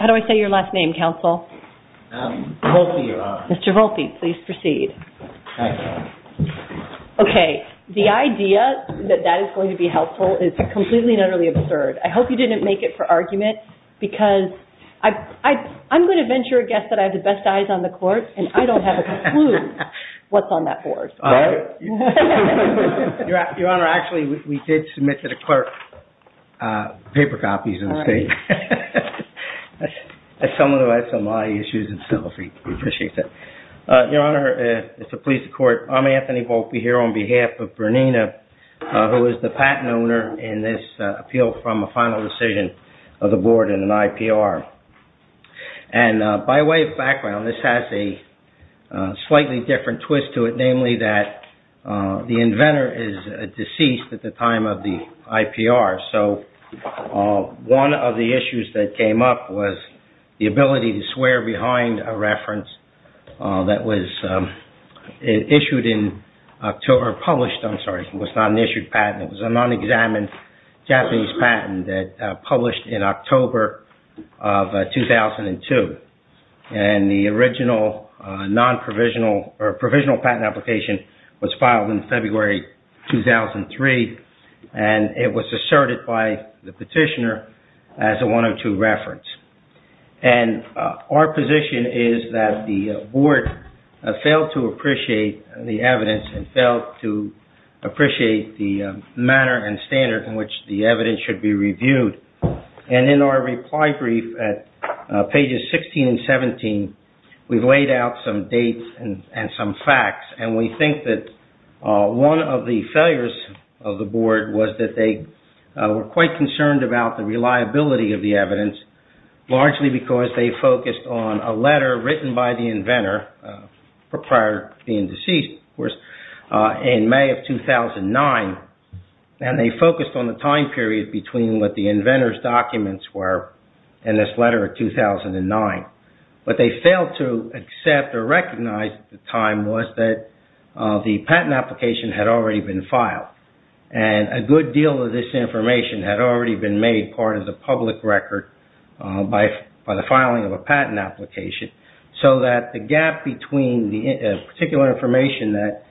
How do I say your last name, Counsel? Volpe, Your Honor. Mr. Volpe, please proceed. Thank you. Okay, the idea that that is going to be helpful is completely and utterly absurd. I hope you didn't make it for argument because I'm going to venture a guess that I have the best eyes on the court and I don't have a clue. What's on that board? Your Honor, actually, we did submit to the clerk paper copies of the state. As someone who has some eye issues and stuff, we appreciate that. Your Honor, it's a pleasure to court. I'm Anthony Volpe here on behalf of Bernina, who is the patent owner in this appeal from a final decision of the board in an IPR. By way of background, this has a slightly different twist to it, namely that the inventor is deceased at the time of the IPR. One of the issues that came up was the ability to swear behind a reference that was issued in October. It was not an issued patent. It was a non-examined Japanese patent that published in October of 2002. The original provisional patent application was filed in February 2003. It was asserted by the petitioner as a 102 reference. Our position is that the board failed to appreciate the evidence and failed to appreciate the manner and standard in which the evidence should be reviewed. In our reply brief at pages 16 and 17, we've laid out some dates and some facts. We think that one of the failures of the board was that they were quite concerned about the reliability of the evidence, largely because they focused on a letter written by the inventor prior to being deceased, of course, in May of 2009. They focused on the time period between what the inventor's documents were and this letter of 2009. What they failed to accept or recognize at the time was that the patent application had already been filed. A good deal of this information had already been made part of the public record by the filing of a patent application, so that the gap between the particular information that...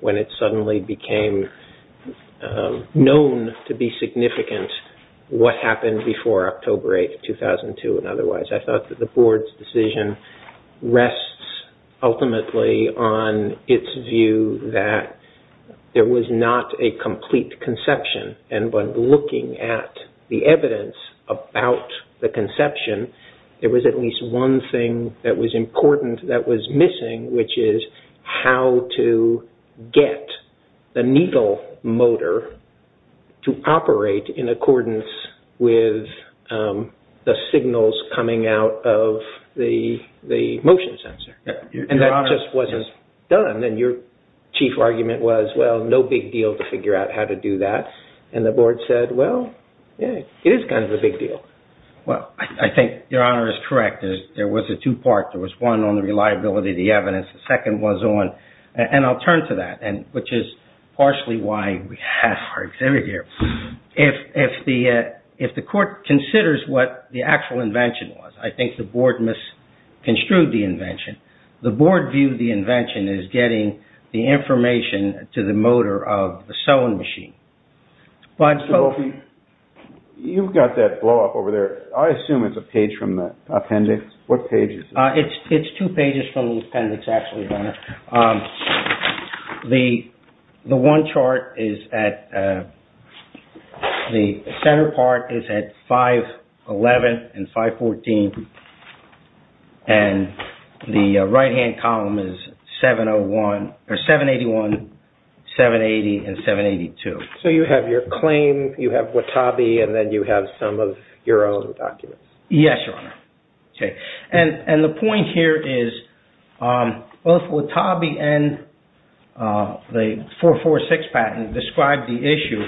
when it suddenly became known to be significant, what happened before October 8, 2002 and otherwise. I thought that the board's decision rests ultimately on its view that there was not a complete conception, and by looking at the evidence about the conception, there was at least one thing that was important that was missing, which is how to get the needle motor to operate in accordance with the signals coming out of the motion sensor. And that just wasn't done. And your chief argument was, well, no big deal to figure out how to do that. And the board said, well, yeah, it is kind of a big deal. Well, I think Your Honor is correct. There was a two-part. There was one on the reliability of the evidence. The second was on... and I'll turn to that, which is partially why we have our exhibit here. If the court considers what the actual invention was, I think the board misconstrued the invention. The board viewed the invention as getting the information to the motor of the sewing machine. So, Opie, you've got that blow-up over there. I assume it's a page from the appendix. What page is it? It's two pages from the appendix, actually, Your Honor. The one chart is at... the center part is at 511 and 514. And the right-hand column is 781, 780, and 782. So you have your claim, you have Watabe, and then you have some of your own documents. Yes, Your Honor. And the point here is both Watabe and the 446 patent describe the issue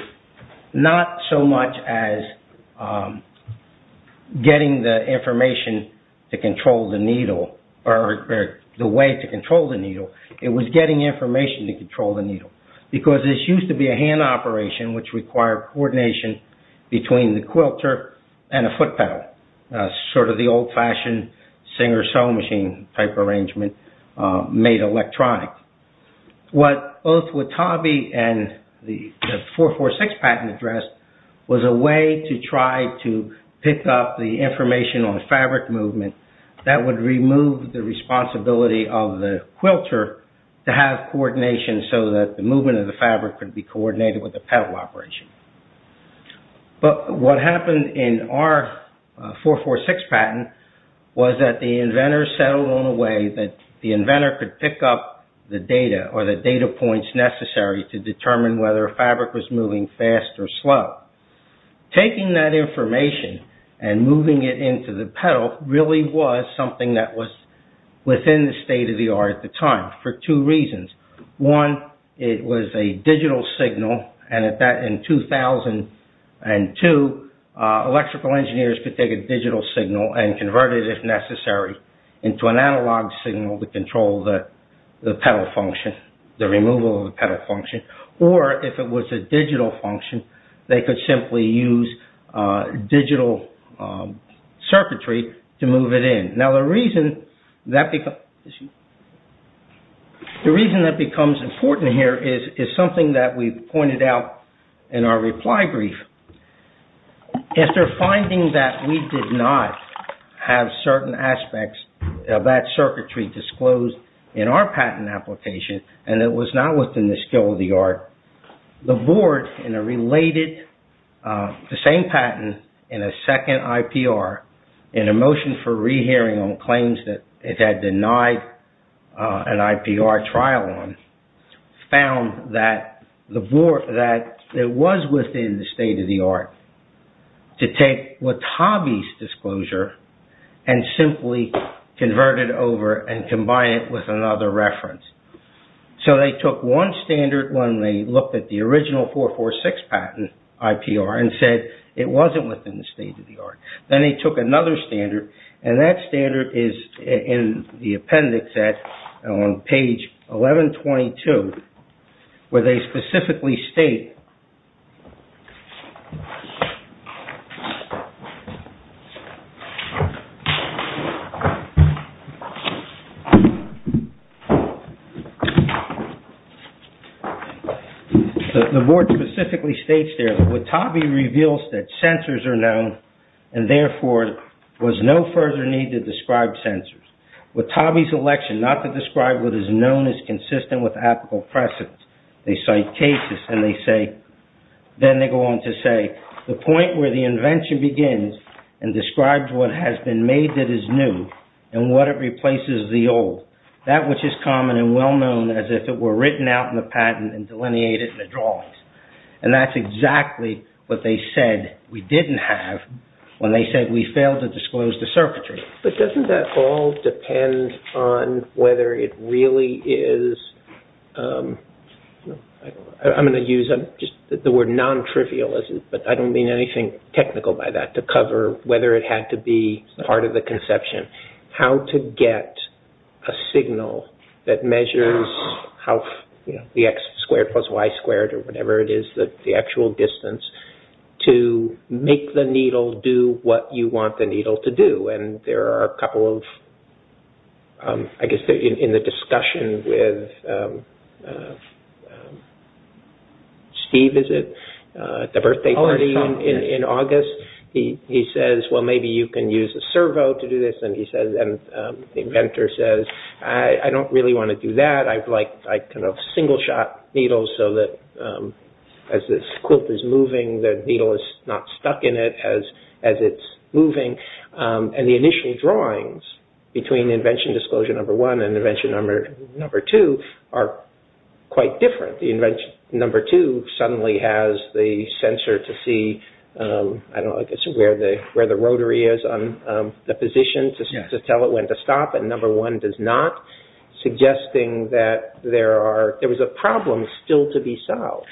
not so much as getting the information to control the needle or the way to control the needle. It was getting information to control the needle because this used to be a hand operation which required coordination between the quilter and a foot pedal. Sort of the old-fashioned Singer sewing machine type arrangement made electronic. What both Watabe and the 446 patent address was a way to try to pick up the information on fabric movement that would remove the responsibility of the quilter to have coordination so that the movement of the fabric could be coordinated with the pedal operation. But what happened in our 446 patent was that the inventor settled on a way that the inventor could pick up the data or the data points necessary to determine whether a fabric was moving fast or slow. Taking that information and moving it into the pedal really was something that was within the state-of-the-art at the time for two reasons. One, it was a digital signal and in 2002, electrical engineers could take a digital signal and convert it if necessary into an analog signal to control the pedal function, the removal of the pedal function. Or if it was a digital function, they could simply use digital circuitry to move it in. Now, the reason that becomes important here is something that we pointed out in our reply brief. After finding that we did not have certain aspects of that circuitry disclosed in our patent application and it was not within the state-of-the-art, the board in a related, the same patent in a second IPR, in a motion for re-hearing on claims that it had denied an IPR trial on, found that it was within the state-of-the-art to take Watabe's disclosure and simply convert it over and combine it with another reference. So they took one standard when they looked at the original 446 patent IPR and said it wasn't within the state-of-the-art. Then they took another standard and that standard is in the appendix on page 1122 where they specifically state... The board specifically states there that Watabe reveals that censors are known and therefore there was no further need to describe censors. Watabe's election not to describe what is known is consistent with applicable precedence. They cite cases and they say, then they go on to say, the point where the invention begins and describes what has been made of the IPR and what they did is new and what it replaces is the old. That which is common and well-known as if it were written out in the patent and delineated in the drawings. And that's exactly what they said we didn't have when they said we failed to disclose the circuitry. But doesn't that all depend on whether it really is... I'm going to use the word non-trivial, but I don't mean anything technical by that to cover whether it had to be part of the conception. How to get a signal that measures the X squared plus Y squared or whatever it is, the actual distance, to make the needle do what you want the needle to do. And there are a couple of... I guess in the discussion with... in the birthday party in August, he says, well, maybe you can use a servo to do this. And the inventor says, I don't really want to do that. I kind of single-shot needles so that as this quilt is moving, the needle is not stuck in it as it's moving. And the initial drawings between invention disclosure number one and invention number two are quite different. The invention number two suddenly has the sensor to see, I don't know, I guess where the rotary is on the position to tell it when to stop, and number one does not, suggesting that there are... there was a problem still to be solved.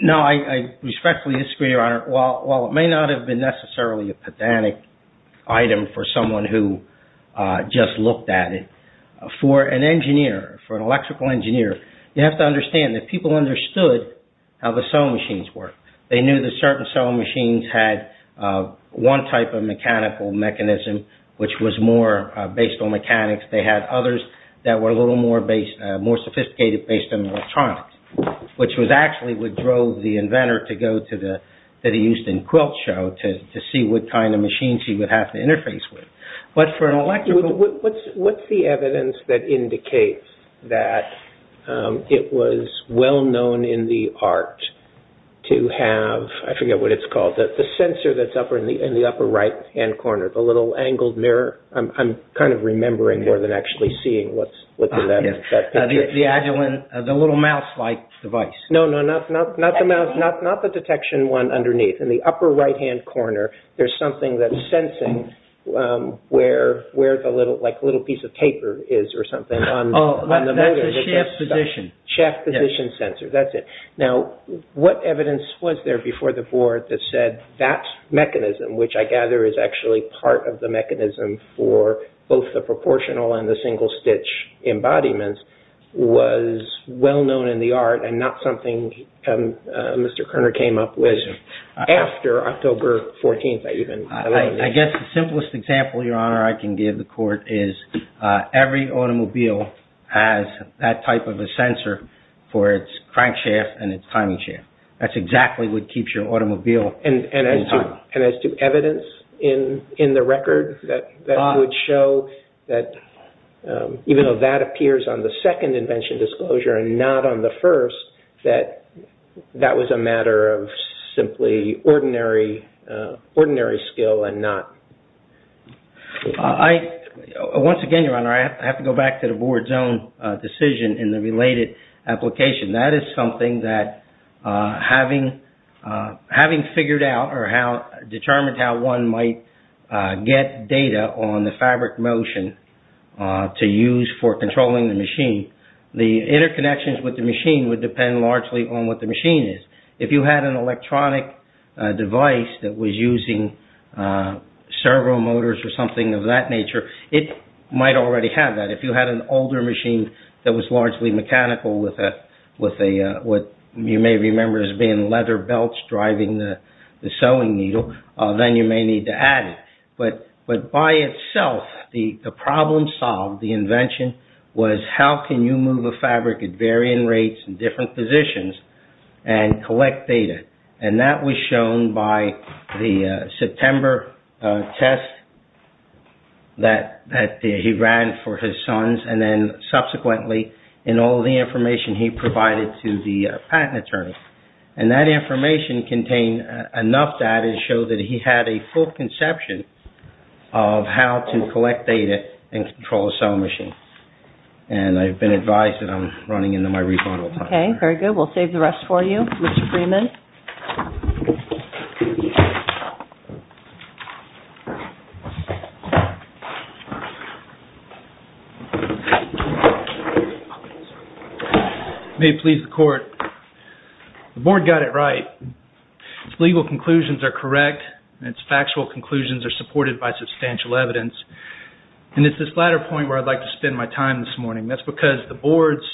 No, I respectfully disagree, Your Honor. While it may not have been necessarily a pedantic item for someone who just looked at it, for an engineer, for an electrical engineer, you have to understand that people understood how the sewing machines work. They knew that certain sewing machines had one type of mechanical mechanism which was more based on mechanics. They had others that were a little more based... more sophisticated based on electronics, which was actually what drove the inventor to go to the... to the Houston Quilt Show to see what kind of machines he would have to interface with. But for an electrical... What's the evidence that indicates that it was well known in the art to have, I forget what it's called, the sensor that's in the upper right-hand corner, the little angled mirror? I'm kind of remembering more than actually seeing what's within that picture. The little mouse-like device. No, no, not the mouse, not the detection one underneath. In the upper right-hand corner, there's something that's sensing where the little... like a little piece of paper is or something. Oh, that's the shaft position. Shaft position sensor, that's it. Now, what evidence was there before the board that said that mechanism, which I gather is actually part of the mechanism for both the proportional and the single-stitch embodiments, was well known in the art and not something Mr. Kerner came up with after October 14th, I even... I guess the simplest example, Your Honor, I can give the court is every automobile has that type of a sensor for its crankshaft and its timing shaft. That's exactly what keeps your automobile in time. And as to evidence in the record that would show that even though that appears on the second invention disclosure and not on the first, that was a matter of simply ordinary skill and not... Once again, Your Honor, I have to go back to the board's own decision in the related application. That is something that having figured out or determined how one might get data on the fabric motion to use for controlling the machine, the interconnections with the machine would depend largely on what the machine is. If you had an electronic device that was using servo motors or something of that nature, it might already have that. If you had an older machine that was largely mechanical with what you may remember as being leather belts driving the sewing needle, then you may need to add it. But by itself, the problem solved, the invention, was how can you move a fabric at varying rates in different positions and collect data. And that was shown by the September test that he ran for his sons and then subsequently in all the information he provided to the patent attorney. And that information contained enough data to show that he had a full conception of how to collect data and control a sewing machine. And I've been advised that I'm running into my rebuttal time. Okay, very good. We'll save the rest for you, Mr. Freeman. May it please the court. The board got it right. Its legal conclusions are correct and its factual conclusions are supported by substantial evidence. And it's this latter point where I'd like to spend my time this morning. That's because the board's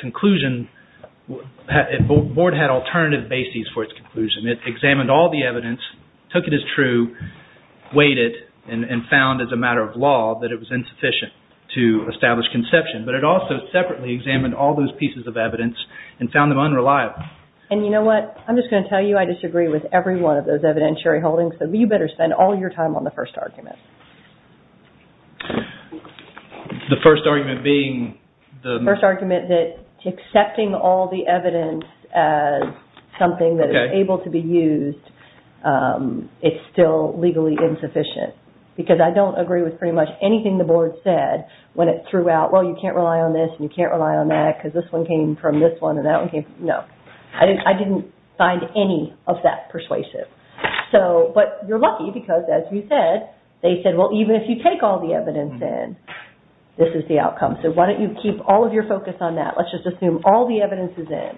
conclusion, the board had alternative bases for its conclusion. It examined all the evidence, took it as true, weighed it, and found as a matter of law that it was insufficient to establish conception. But it also separately examined all those pieces of evidence and found them unreliable. And you know what? I'm just going to tell you I disagree with every one of those evidentiary holdings. So you better spend all your time on the first argument. The first argument being the... The first argument that accepting all the evidence as something that is able to be used is still legally insufficient. Because I don't agree with pretty much anything the board said when it threw out, well, you can't rely on this and you can't rely on that because this one came from this one and that one came from... No. I didn't find any of that persuasive. But you're lucky because, as you said, they said, well, even if you take all the evidence in, this is the outcome. So why don't you keep all of your focus on that. Let's just assume all the evidence is in.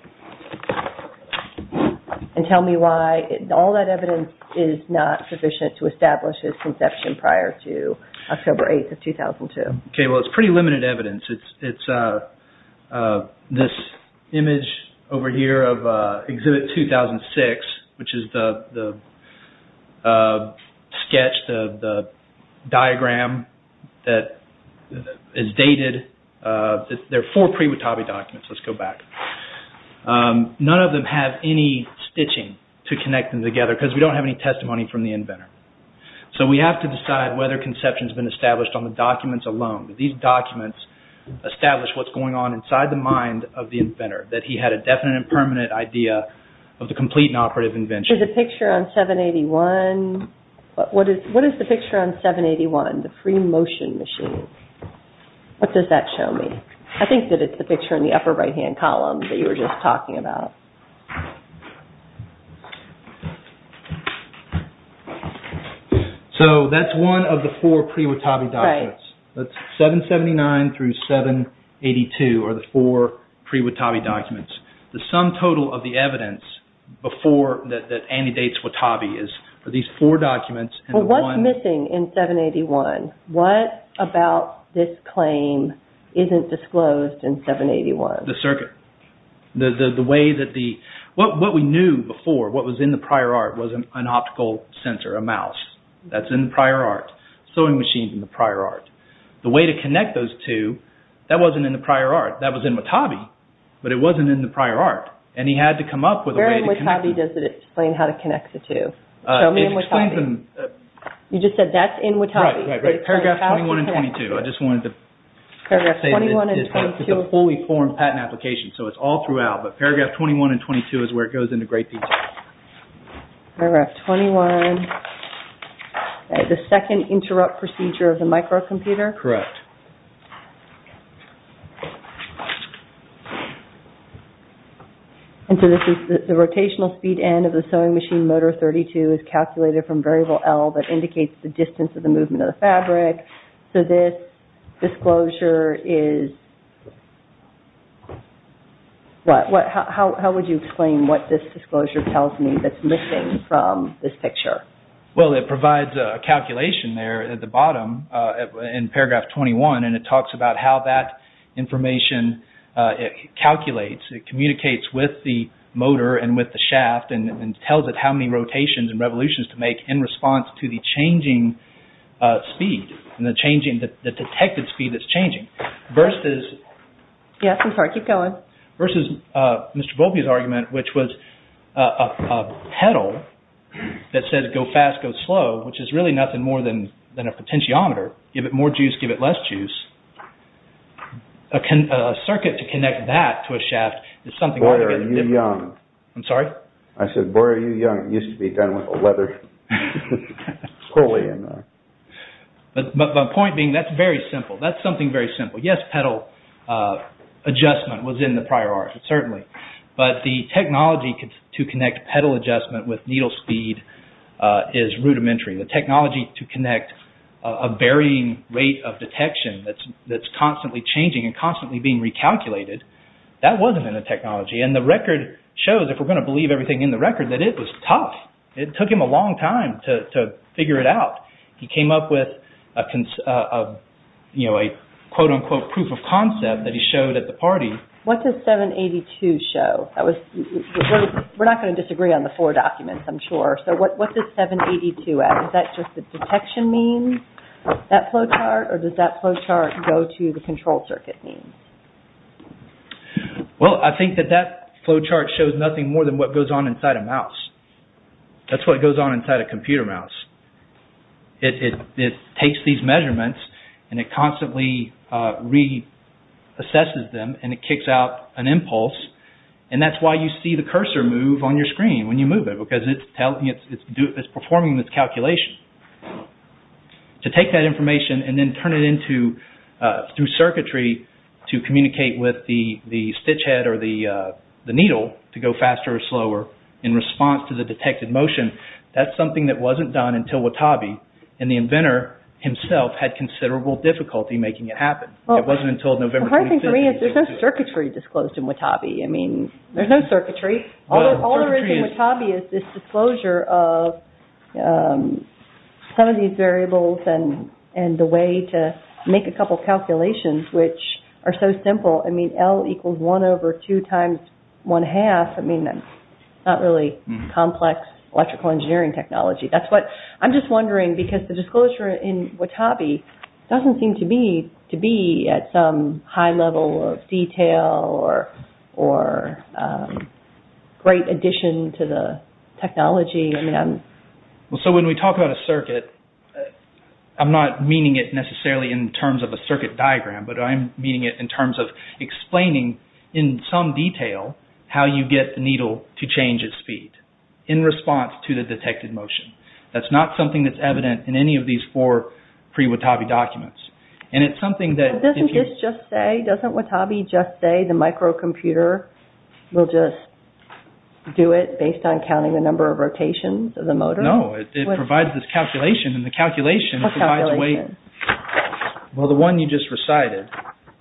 And tell me why all that evidence is not sufficient to establish its conception prior to October 8th of 2002. Okay, well, it's pretty limited evidence. It's this image over here of Exhibit 2006, which is the sketch, the diagram that is dated. There are four pre-Watabe documents. Let's go back. None of them have any stitching to connect them together because we don't have any testimony from the inventor. So we have to decide whether conception's been established on the documents alone. These documents establish what's going on inside the mind of the inventor, that he had a definite and permanent idea of the complete and operative invention. There's a picture on 781. What is the picture on 781, the free motion machine? What does that show me? I think that it's the picture in the upper right-hand column that you were just talking about. So that's one of the four pre-Watabe documents. Right. That's 779 through 782 are the four pre-Watabe documents. The sum total of the evidence that anti-dates Watabe are these four documents. What's missing in 781? What about this claim isn't disclosed in 781? The circuit. What we knew before, what was in the prior art, was an optical sensor, a mouse. That's in the prior art. Sewing machines in the prior art. The way to connect those two, that wasn't in the prior art. That was in Watabe, but it wasn't in the prior art. And he had to come up with a way to connect them. Where in Watabe does it explain how to connect the two? Show me in Watabe. It explains in... You just said that's in Watabe. Right, right, right. Paragraph 21 and 22. I just wanted to say that it's a fully formed patent application, so it's all throughout. But paragraph 21 and 22 is where it goes into great detail. Paragraph 21. The second interrupt procedure of the microcomputer. Correct. And so this is the rotational speed end of the sewing machine motor 32 is calculated from variable L that indicates the distance of the movement of the fabric. So this disclosure is... What? How would you explain what this disclosure tells me that's missing from this picture? Well, it provides a calculation there at the bottom in paragraph 21, and it talks about how that information calculates. It communicates with the motor and with the shaft and tells it how many rotations and revolutions to make in response to the changing speed and the detected speed that's changing. Versus... Yes, I'm sorry. Keep going. Versus Mr. Volpe's argument, which was a pedal that says go fast, go slow, which is really nothing more than a potentiometer. Give it more juice, give it less juice. A circuit to connect that to a shaft is something... Boy, are you young. I'm sorry? I said, boy, are you young. It used to be done with a leather pulley. But the point being, that's very simple. That's something very simple. Yes, pedal adjustment was in the prior art, certainly. But the technology to connect pedal adjustment with needle speed is rudimentary. The technology to connect a varying rate of detection that's constantly changing and constantly being recalculated, that wasn't in the technology. And the record shows, if we're going to believe everything in the record, that it was tough. It took him a long time to figure it out. He came up with a quote-unquote proof of concept that he showed at the party. What does 782 show? That was... We're not going to disagree on the four documents, I'm sure. So what does 782 add? Is that just the detection mean, that flowchart? Or does that flowchart go to the control circuit mean? Well, I think that that flowchart shows nothing more than what goes on inside a mouse. That's what goes on inside a computer mouse. It takes these measurements and it constantly reassesses them and it kicks out an impulse. And that's why you see the cursor move on your screen when you move it because it's performing this calculation. To take that information and then turn it into, through circuitry, to communicate with the stitch head or the needle to go faster or slower in response to the detected motion, that's something that wasn't done until Watabe and the inventor himself had considerable difficulty making it happen. It wasn't until November 2015. The hard thing for me is there's no circuitry disclosed in Watabe. I mean, there's no circuitry. All there is in Watabe is this disclosure of some of these variables and the way to make a couple calculations which are so simple. I mean, L equals one over two times one half. I mean, that's not really complex electrical engineering technology. That's what I'm just wondering because the disclosure in Watabe doesn't seem to be at some high level of detail or great addition to the technology. So when we talk about a circuit, I'm not meaning it necessarily in terms of a circuit diagram, but I'm meaning it in terms of explaining in some detail how you get the needle to change its speed in response to the detected motion. That's not something that's evident in any of these four pre-Watabe documents. Doesn't this just say, doesn't Watabe just say the microcomputer will just do it based on counting the number of rotations of the motor? No. It provides this calculation and the calculation provides a way... What calculation? Well, the one you just recited.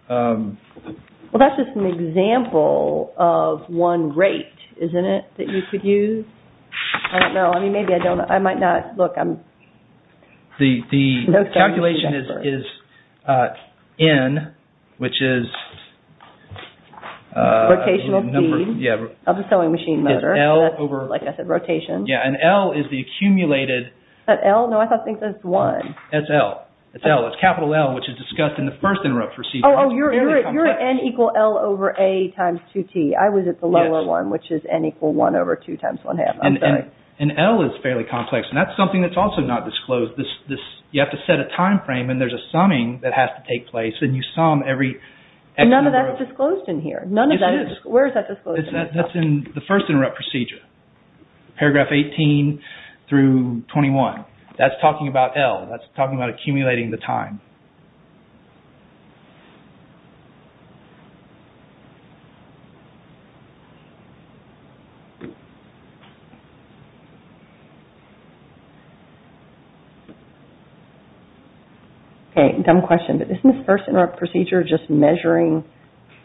Well, that's just an example of one rate, isn't it, that you could use? I don't know. I mean, maybe I don't know. I might not. Look, I'm... The calculation is N, which is... Rotational speed of the sewing machine motor. So that's, like I said, rotation. Yeah, and L is the accumulated... Is that L? No, I think that's 1. That's L. It's L. It's capital L, which is discussed in the first interrupt procedure. Oh, you're at N equal L over A times 2T. I was at the lower one, which is N equal 1 over 2 times 1 half. I'm sorry. And L is fairly complex, and that's something that's also not disclosed. You have to set a time frame, and there's a summing that has to take place, and you sum every... None of that's disclosed in here. It is. Where is that disclosed? That's in the first interrupt procedure, paragraph 18 through 21. That's talking about L. That's talking about accumulating the time. Okay, dumb question, but isn't this first interrupt procedure just measuring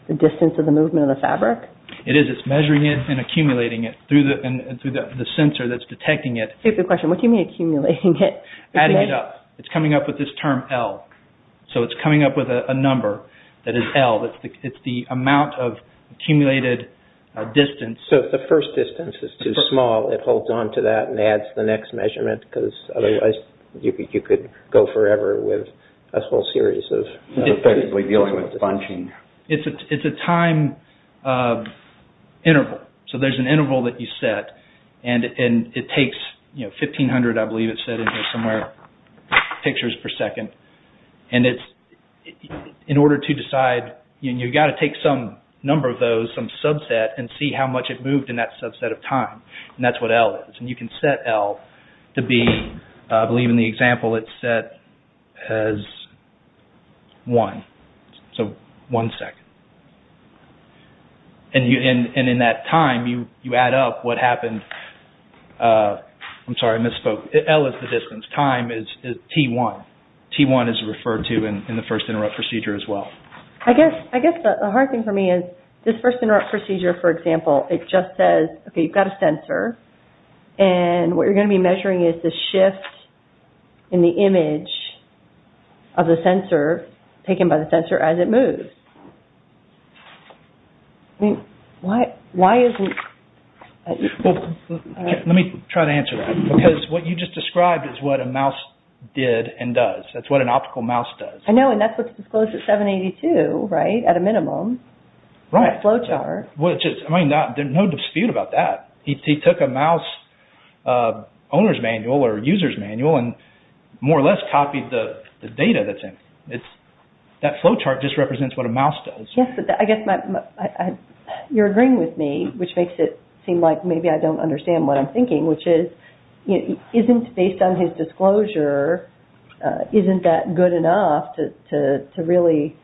the distance of the movement of the fabric? It is. It's measuring it and accumulating it through the sensor that's detecting it. It's a good question. What do you mean accumulating it? Adding it up. It's coming up with this term L. So it's coming up with a number that is L. It's the amount of accumulated distance. So if the first distance is too small, it holds on to that and adds the next measurement, because otherwise you could go forever with a whole series of effectively dealing with bunching. It's a time... interval. So there's an interval that you set and it takes, you know, 1500 I believe it said in here somewhere, pictures per second. And it's... in order to decide, you've got to take some number of those, some subset, and see how much it moved in that subset of time. And that's what L is. And you can set L to be, I believe in the example it's set as one. So one second. And in that time, you add up what happened. I'm sorry, I misspoke. L is the distance. Time is T1. T1 is referred to in the first interrupt procedure as well. I guess the hard thing for me is this first interrupt procedure for example, it just says, okay, you've got a sensor and what you're going to be measuring is the shift in the image of the sensor, taken by the sensor as it moves. Why isn't... Let me try to answer that. Because what you just described is what a mouse did and does. That's what an optical mouse does. I know, and that's what's disclosed at 782, right? At a minimum. Right. That flowchart. No dispute about that. He took a mouse owner's manual or user's manual and more or less copied the data that's in it. That flowchart just represents what a mouse does. Yes, I guess my... You're agreeing with me, which makes it seem like maybe I don't understand what I'm thinking, which is, isn't based on his disclosure, isn't that good enough to really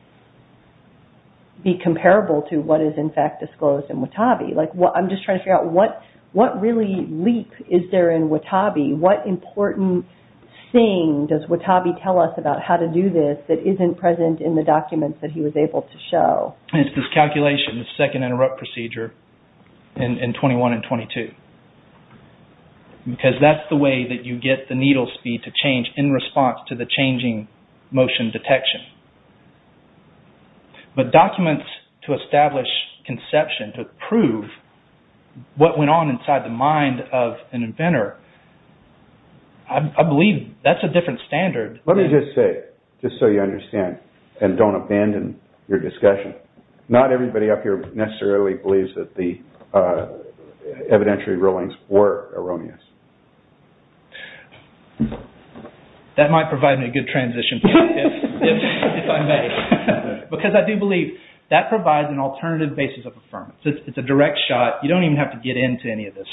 be comparable to what is in fact disclosed in Watabi? I'm just trying to figure out what really leap is there in Watabi? What important thing does Watabi tell us about how to do this that isn't present in the documents that he was able to show? It's this calculation, this second interrupt procedure in 21 and 22. Because that's the way that you get the needle speed to change in response to the changing motion detection. But documents to establish conception, to prove what went on inside the mind of an inventor, I believe that's a different standard. Let me just say, just so you understand, and don't abandon your discussion, not everybody up here necessarily believes that the evidentiary rulings were erroneous. That might provide me a good transition point, if I may. Because I do believe that provides an alternative basis of affirmation. It's a direct shot. You don't even have to get into any of this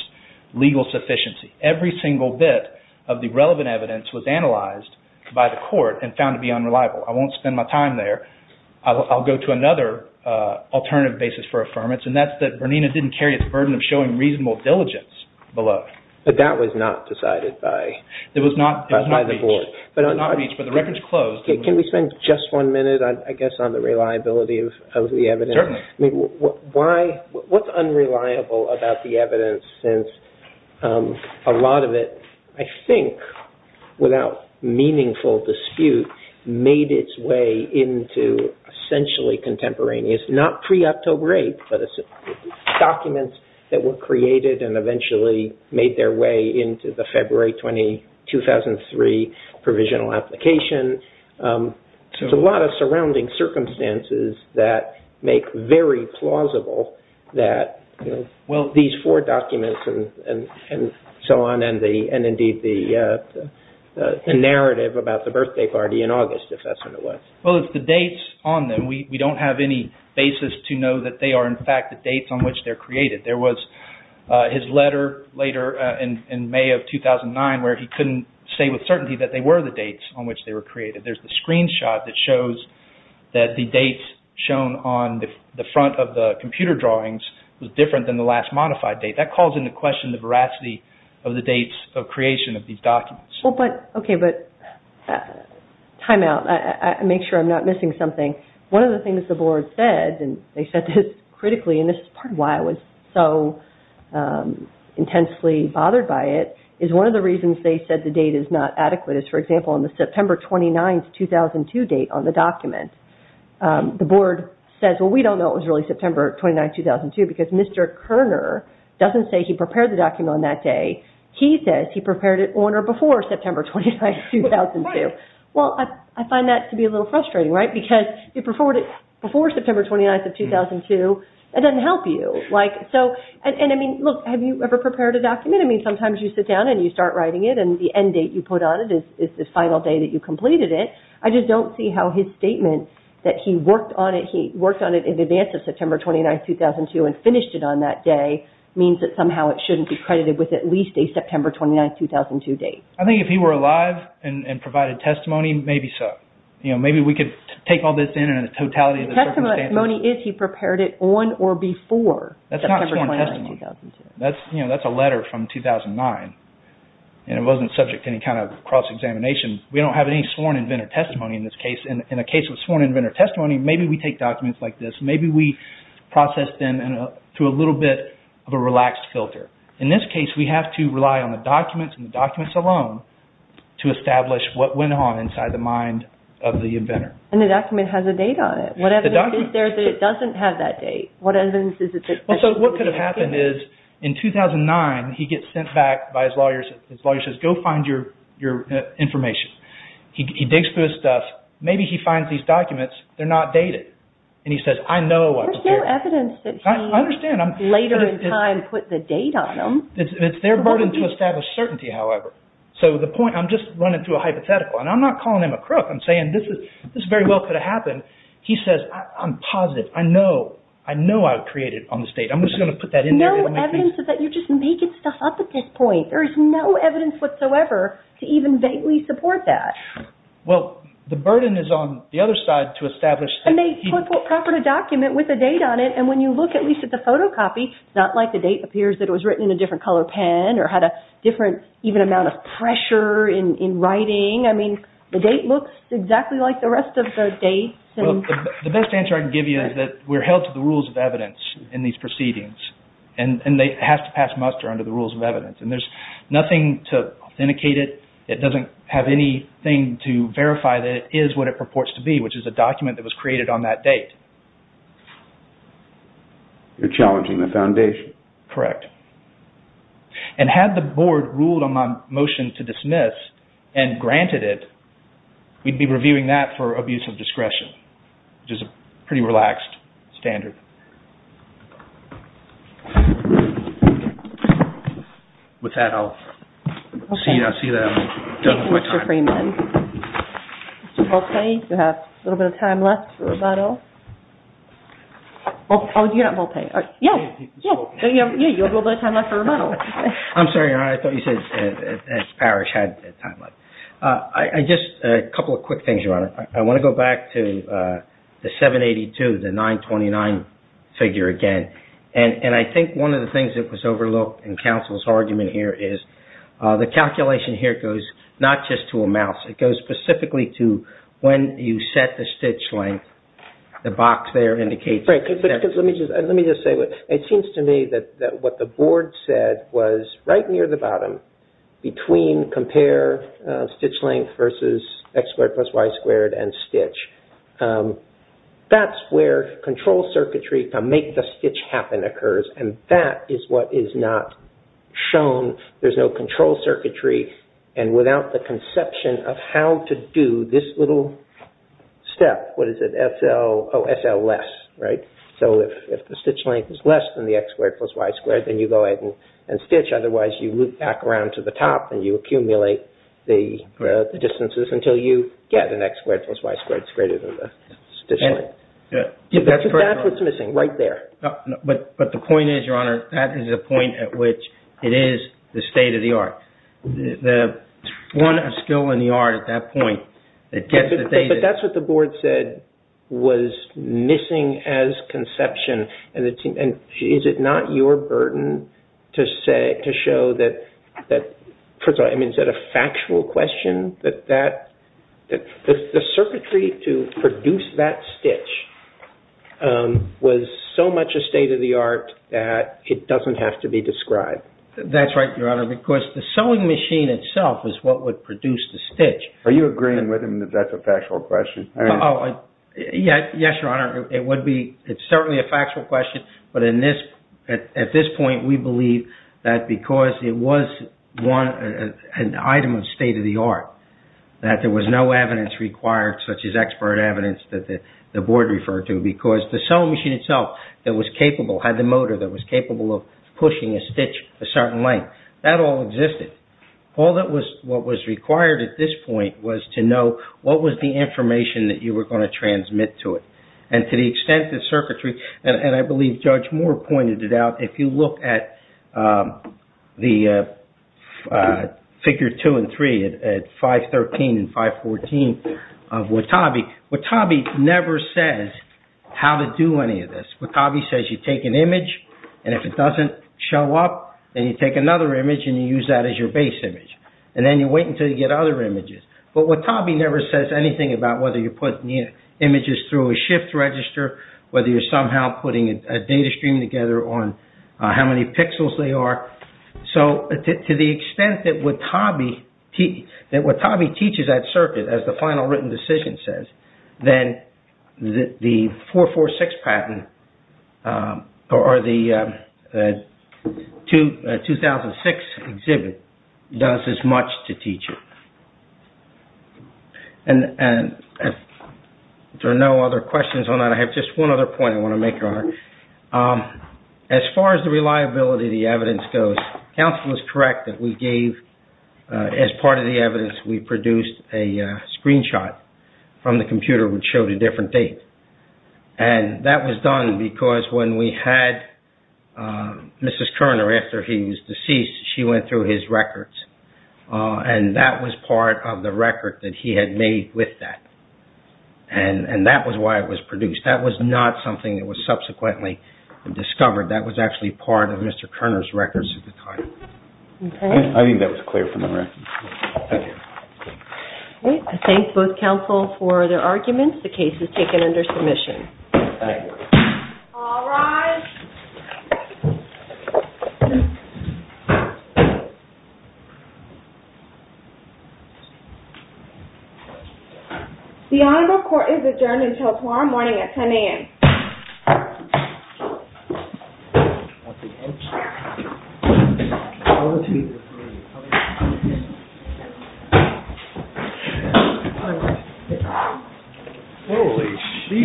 legal sufficiency. Every single bit of the relevant evidence was analyzed by the court and found to be unreliable. I won't spend my time there. I'll go to another alternative basis for affirmation, and that's that Bernina didn't carry its burden of showing reasonable diligence below. But that was not decided by the court. It was not reached. But the record's closed. Can we spend just one minute, I guess, on the reliability of the evidence? Certainly. What's unreliable about the evidence since a lot of it, I think, without meaningful dispute, made its way into essentially contemporaneous, not pre-October 8th, but documents that were created and eventually made their way into the February 20, 2003 provisional application. There's a lot of surrounding circumstances that make very plausible that, well, these four documents and so on and, indeed, the narrative about the birthday party in August, if that's what it was. Well, it's the dates on them. We don't have any basis to know that they are, in fact, the dates on which they're created. There was his letter later in May of 2009 where he couldn't say with certainty that they were the dates on which they were created. There's the screenshot that shows that the dates shown on the front of the computer drawings was different than the last modified date. That calls into question the veracity of the dates of creation of these documents. Well, but, okay, but time out. I'll make sure I'm not missing something. One of the things the Board said, and they said this critically, and this is part of why I was so intensely bothered by it, is one of the reasons they said the date is not adequate is, for example, on the September 29, 2002 date on the document. The Board says, well, we don't know it was really September 29, 2002 because Mr. Kerner doesn't say he prepared the document on that day. He says he prepared it on or before September 29, 2002. Well, I find that to be a little frustrating, right, because before September 29, 2002, that doesn't help you. And, I mean, look, have you ever prepared a document? I mean, sometimes you sit down and you start writing it and the end date you put on it is the final date that you completed it. I just don't see how his statement that he worked on it, he worked on it in advance of September 29, 2002 and finished it on that day means that somehow it shouldn't be credited with at least a September 29, 2002 document. I think if he were alive and provided testimony, maybe so. Maybe we could take all this in and the totality of the circumstances. he prepared it on or before September 29, 2002. That's not sworn testimony. That's a letter from 2009 and it wasn't subject to any kind of cross-examination. We don't have any sworn inventor testimony in this case. In a case with sworn inventor testimony, maybe we take documents like this, maybe we process them through a little bit of a relaxed filter. In this case, we have to rely on the documents and the documents alone to establish what went on inside the mind of the inventor. And the document has a date on it. The document. What evidence is there that it doesn't have that date? What evidence is there that it doesn't have that date? What could have happened is in 2009, he gets sent back by his lawyer. His lawyer says, go find your information. He digs through his stuff. Maybe he finds these documents. They're not dated. And he says, I know what's here. There's no evidence that he, later in time, put the date on them. It's their burden to establish certainty, however. So the point, I'm just running through a hypothetical. And I'm not calling him a crook. I'm saying, this very well could have happened. He says, I'm positive. I know. I know I created it on this date. I'm just going to put that in there. No evidence that you're just making stuff up at this point. There is no evidence whatsoever to even dately support that. Well, the burden is on the other side to establish. And they put proper to document with a date on it. And when you look at least at the photocopy, it's not like the date appears that it was written in a different color pen or had a different even amount of pressure in writing. I mean, the date looks exactly like the rest of the dates. The best answer I can give you is that we're held to the rules of evidence in these proceedings. And they have to pass muster under the rules of evidence. And there's nothing to authenticate it. It doesn't have anything to verify that it is what it purports to be, which is a document that was created on that date. You're challenging the foundation. Correct. And had the board ruled on my motion to dismiss and granted it, we'd be reviewing that for abuse of discretion, which is a pretty relaxed standard. With that, Mr. Freeman. Mr. Volpe, do you have a little bit of time left for questions? Yes, I do. Thank you, Mr. Freeman. Mr. Volpe, do you have a little bit of time left for rebuttal? Oh, you're not Volpe. Yes, you have a little bit of time left for rebuttal. I'm sorry, Your Honor. I thought you said that Parrish had time left. Just a couple of quick things, Your Honor. I want to go back to the 782, the 929 figure again. And I think one of the things that was overlooked in counsel's argument here is the calculation here goes not just to a mouse. It goes specifically to when you set the stitch length, the box there indicates that. Right. Let me just say, it seems to me that what the board said was right near the bottom between compare stitch length versus X squared plus Y squared and stitch. That's where happen occurs. And that is what is not shown. There's no control circuitry and without the conception of how to do that, there's no control circuitry to do this little step. What is it? SL, oh, SL less. Right? So if the stitch length is less than the X squared plus Y squared, then you go ahead and stitch. Otherwise, you loop back around to the top and you accumulate the distances until you get an X squared plus Y squared greater than the stitch length. That's what's missing right there. But the point is, Your Honor, that is a point at which it is the state of the art. It's one of skill in the art at that point. But that's what the board said was missing as conception. And is it not your burden to show that is that a factual question? The circuitry that stitch was so much a state of the art that it doesn't have to be described. That's right, Your Honor, because the sewing machine itself is what would produce the stitch. Are you agreeing with him that that's a factual question? Yes, Your Honor. It would be. It's certainly a factual question, but at this point we believe that because it was an item of state of the art that there was no evidence required such as expert evidence that the board referred to because the sewing machine itself that was capable had the motor that was capable of pushing a stitch a certain length. That all existed. All that was what was required at this point was to know what was the information that you were going to transmit to it. And to the extent that circuitry and I believe Judge Moore pointed it out if you look at the figure two and three at 513 and 514 of Watabe, Watabe never says how to do any of this. Watabe says you take an image and if it doesn't show up then you take another image and you use that as your base image. And then you wait until you get other images. But Watabe never says anything about whether you put images through a shift register whether you're somehow putting a data stream together on how many pixels they are. So to the extent that Watabe that Watabe teaches that circuit as the final written decision says then the 446 patent or the 2006 exhibit does as much to teach it. And if there are no other questions on that I have just one other point I want to make Your Honor. As far as the reliability of the evidence goes counsel is correct that we gave as part of the evidence we produced a screenshot from the computer which showed a different date. And that was done because when we had Mrs. Kerner after he was deceased she went through his records. And that was part of the record that he had made with that. And that was why it was produced. That was not something that was subsequently discovered. That was actually part of Mr. Kerner's records at the time. I think that was clear from the record. Thank you. I thank both counsel for their arguments. The case is taken under submission. Thank you. All rise. The honorable court is adjourned until tomorrow morning at 10 a.m. You may be dismissed. This is a adjourn the We'll motion. Good morning. Good morning. Good morning. I would like to ask the defense to please come forward to the podium. Thank you. I think I hear forward to the podium. Thank you. I would like to ask the defense to come forward to the podium.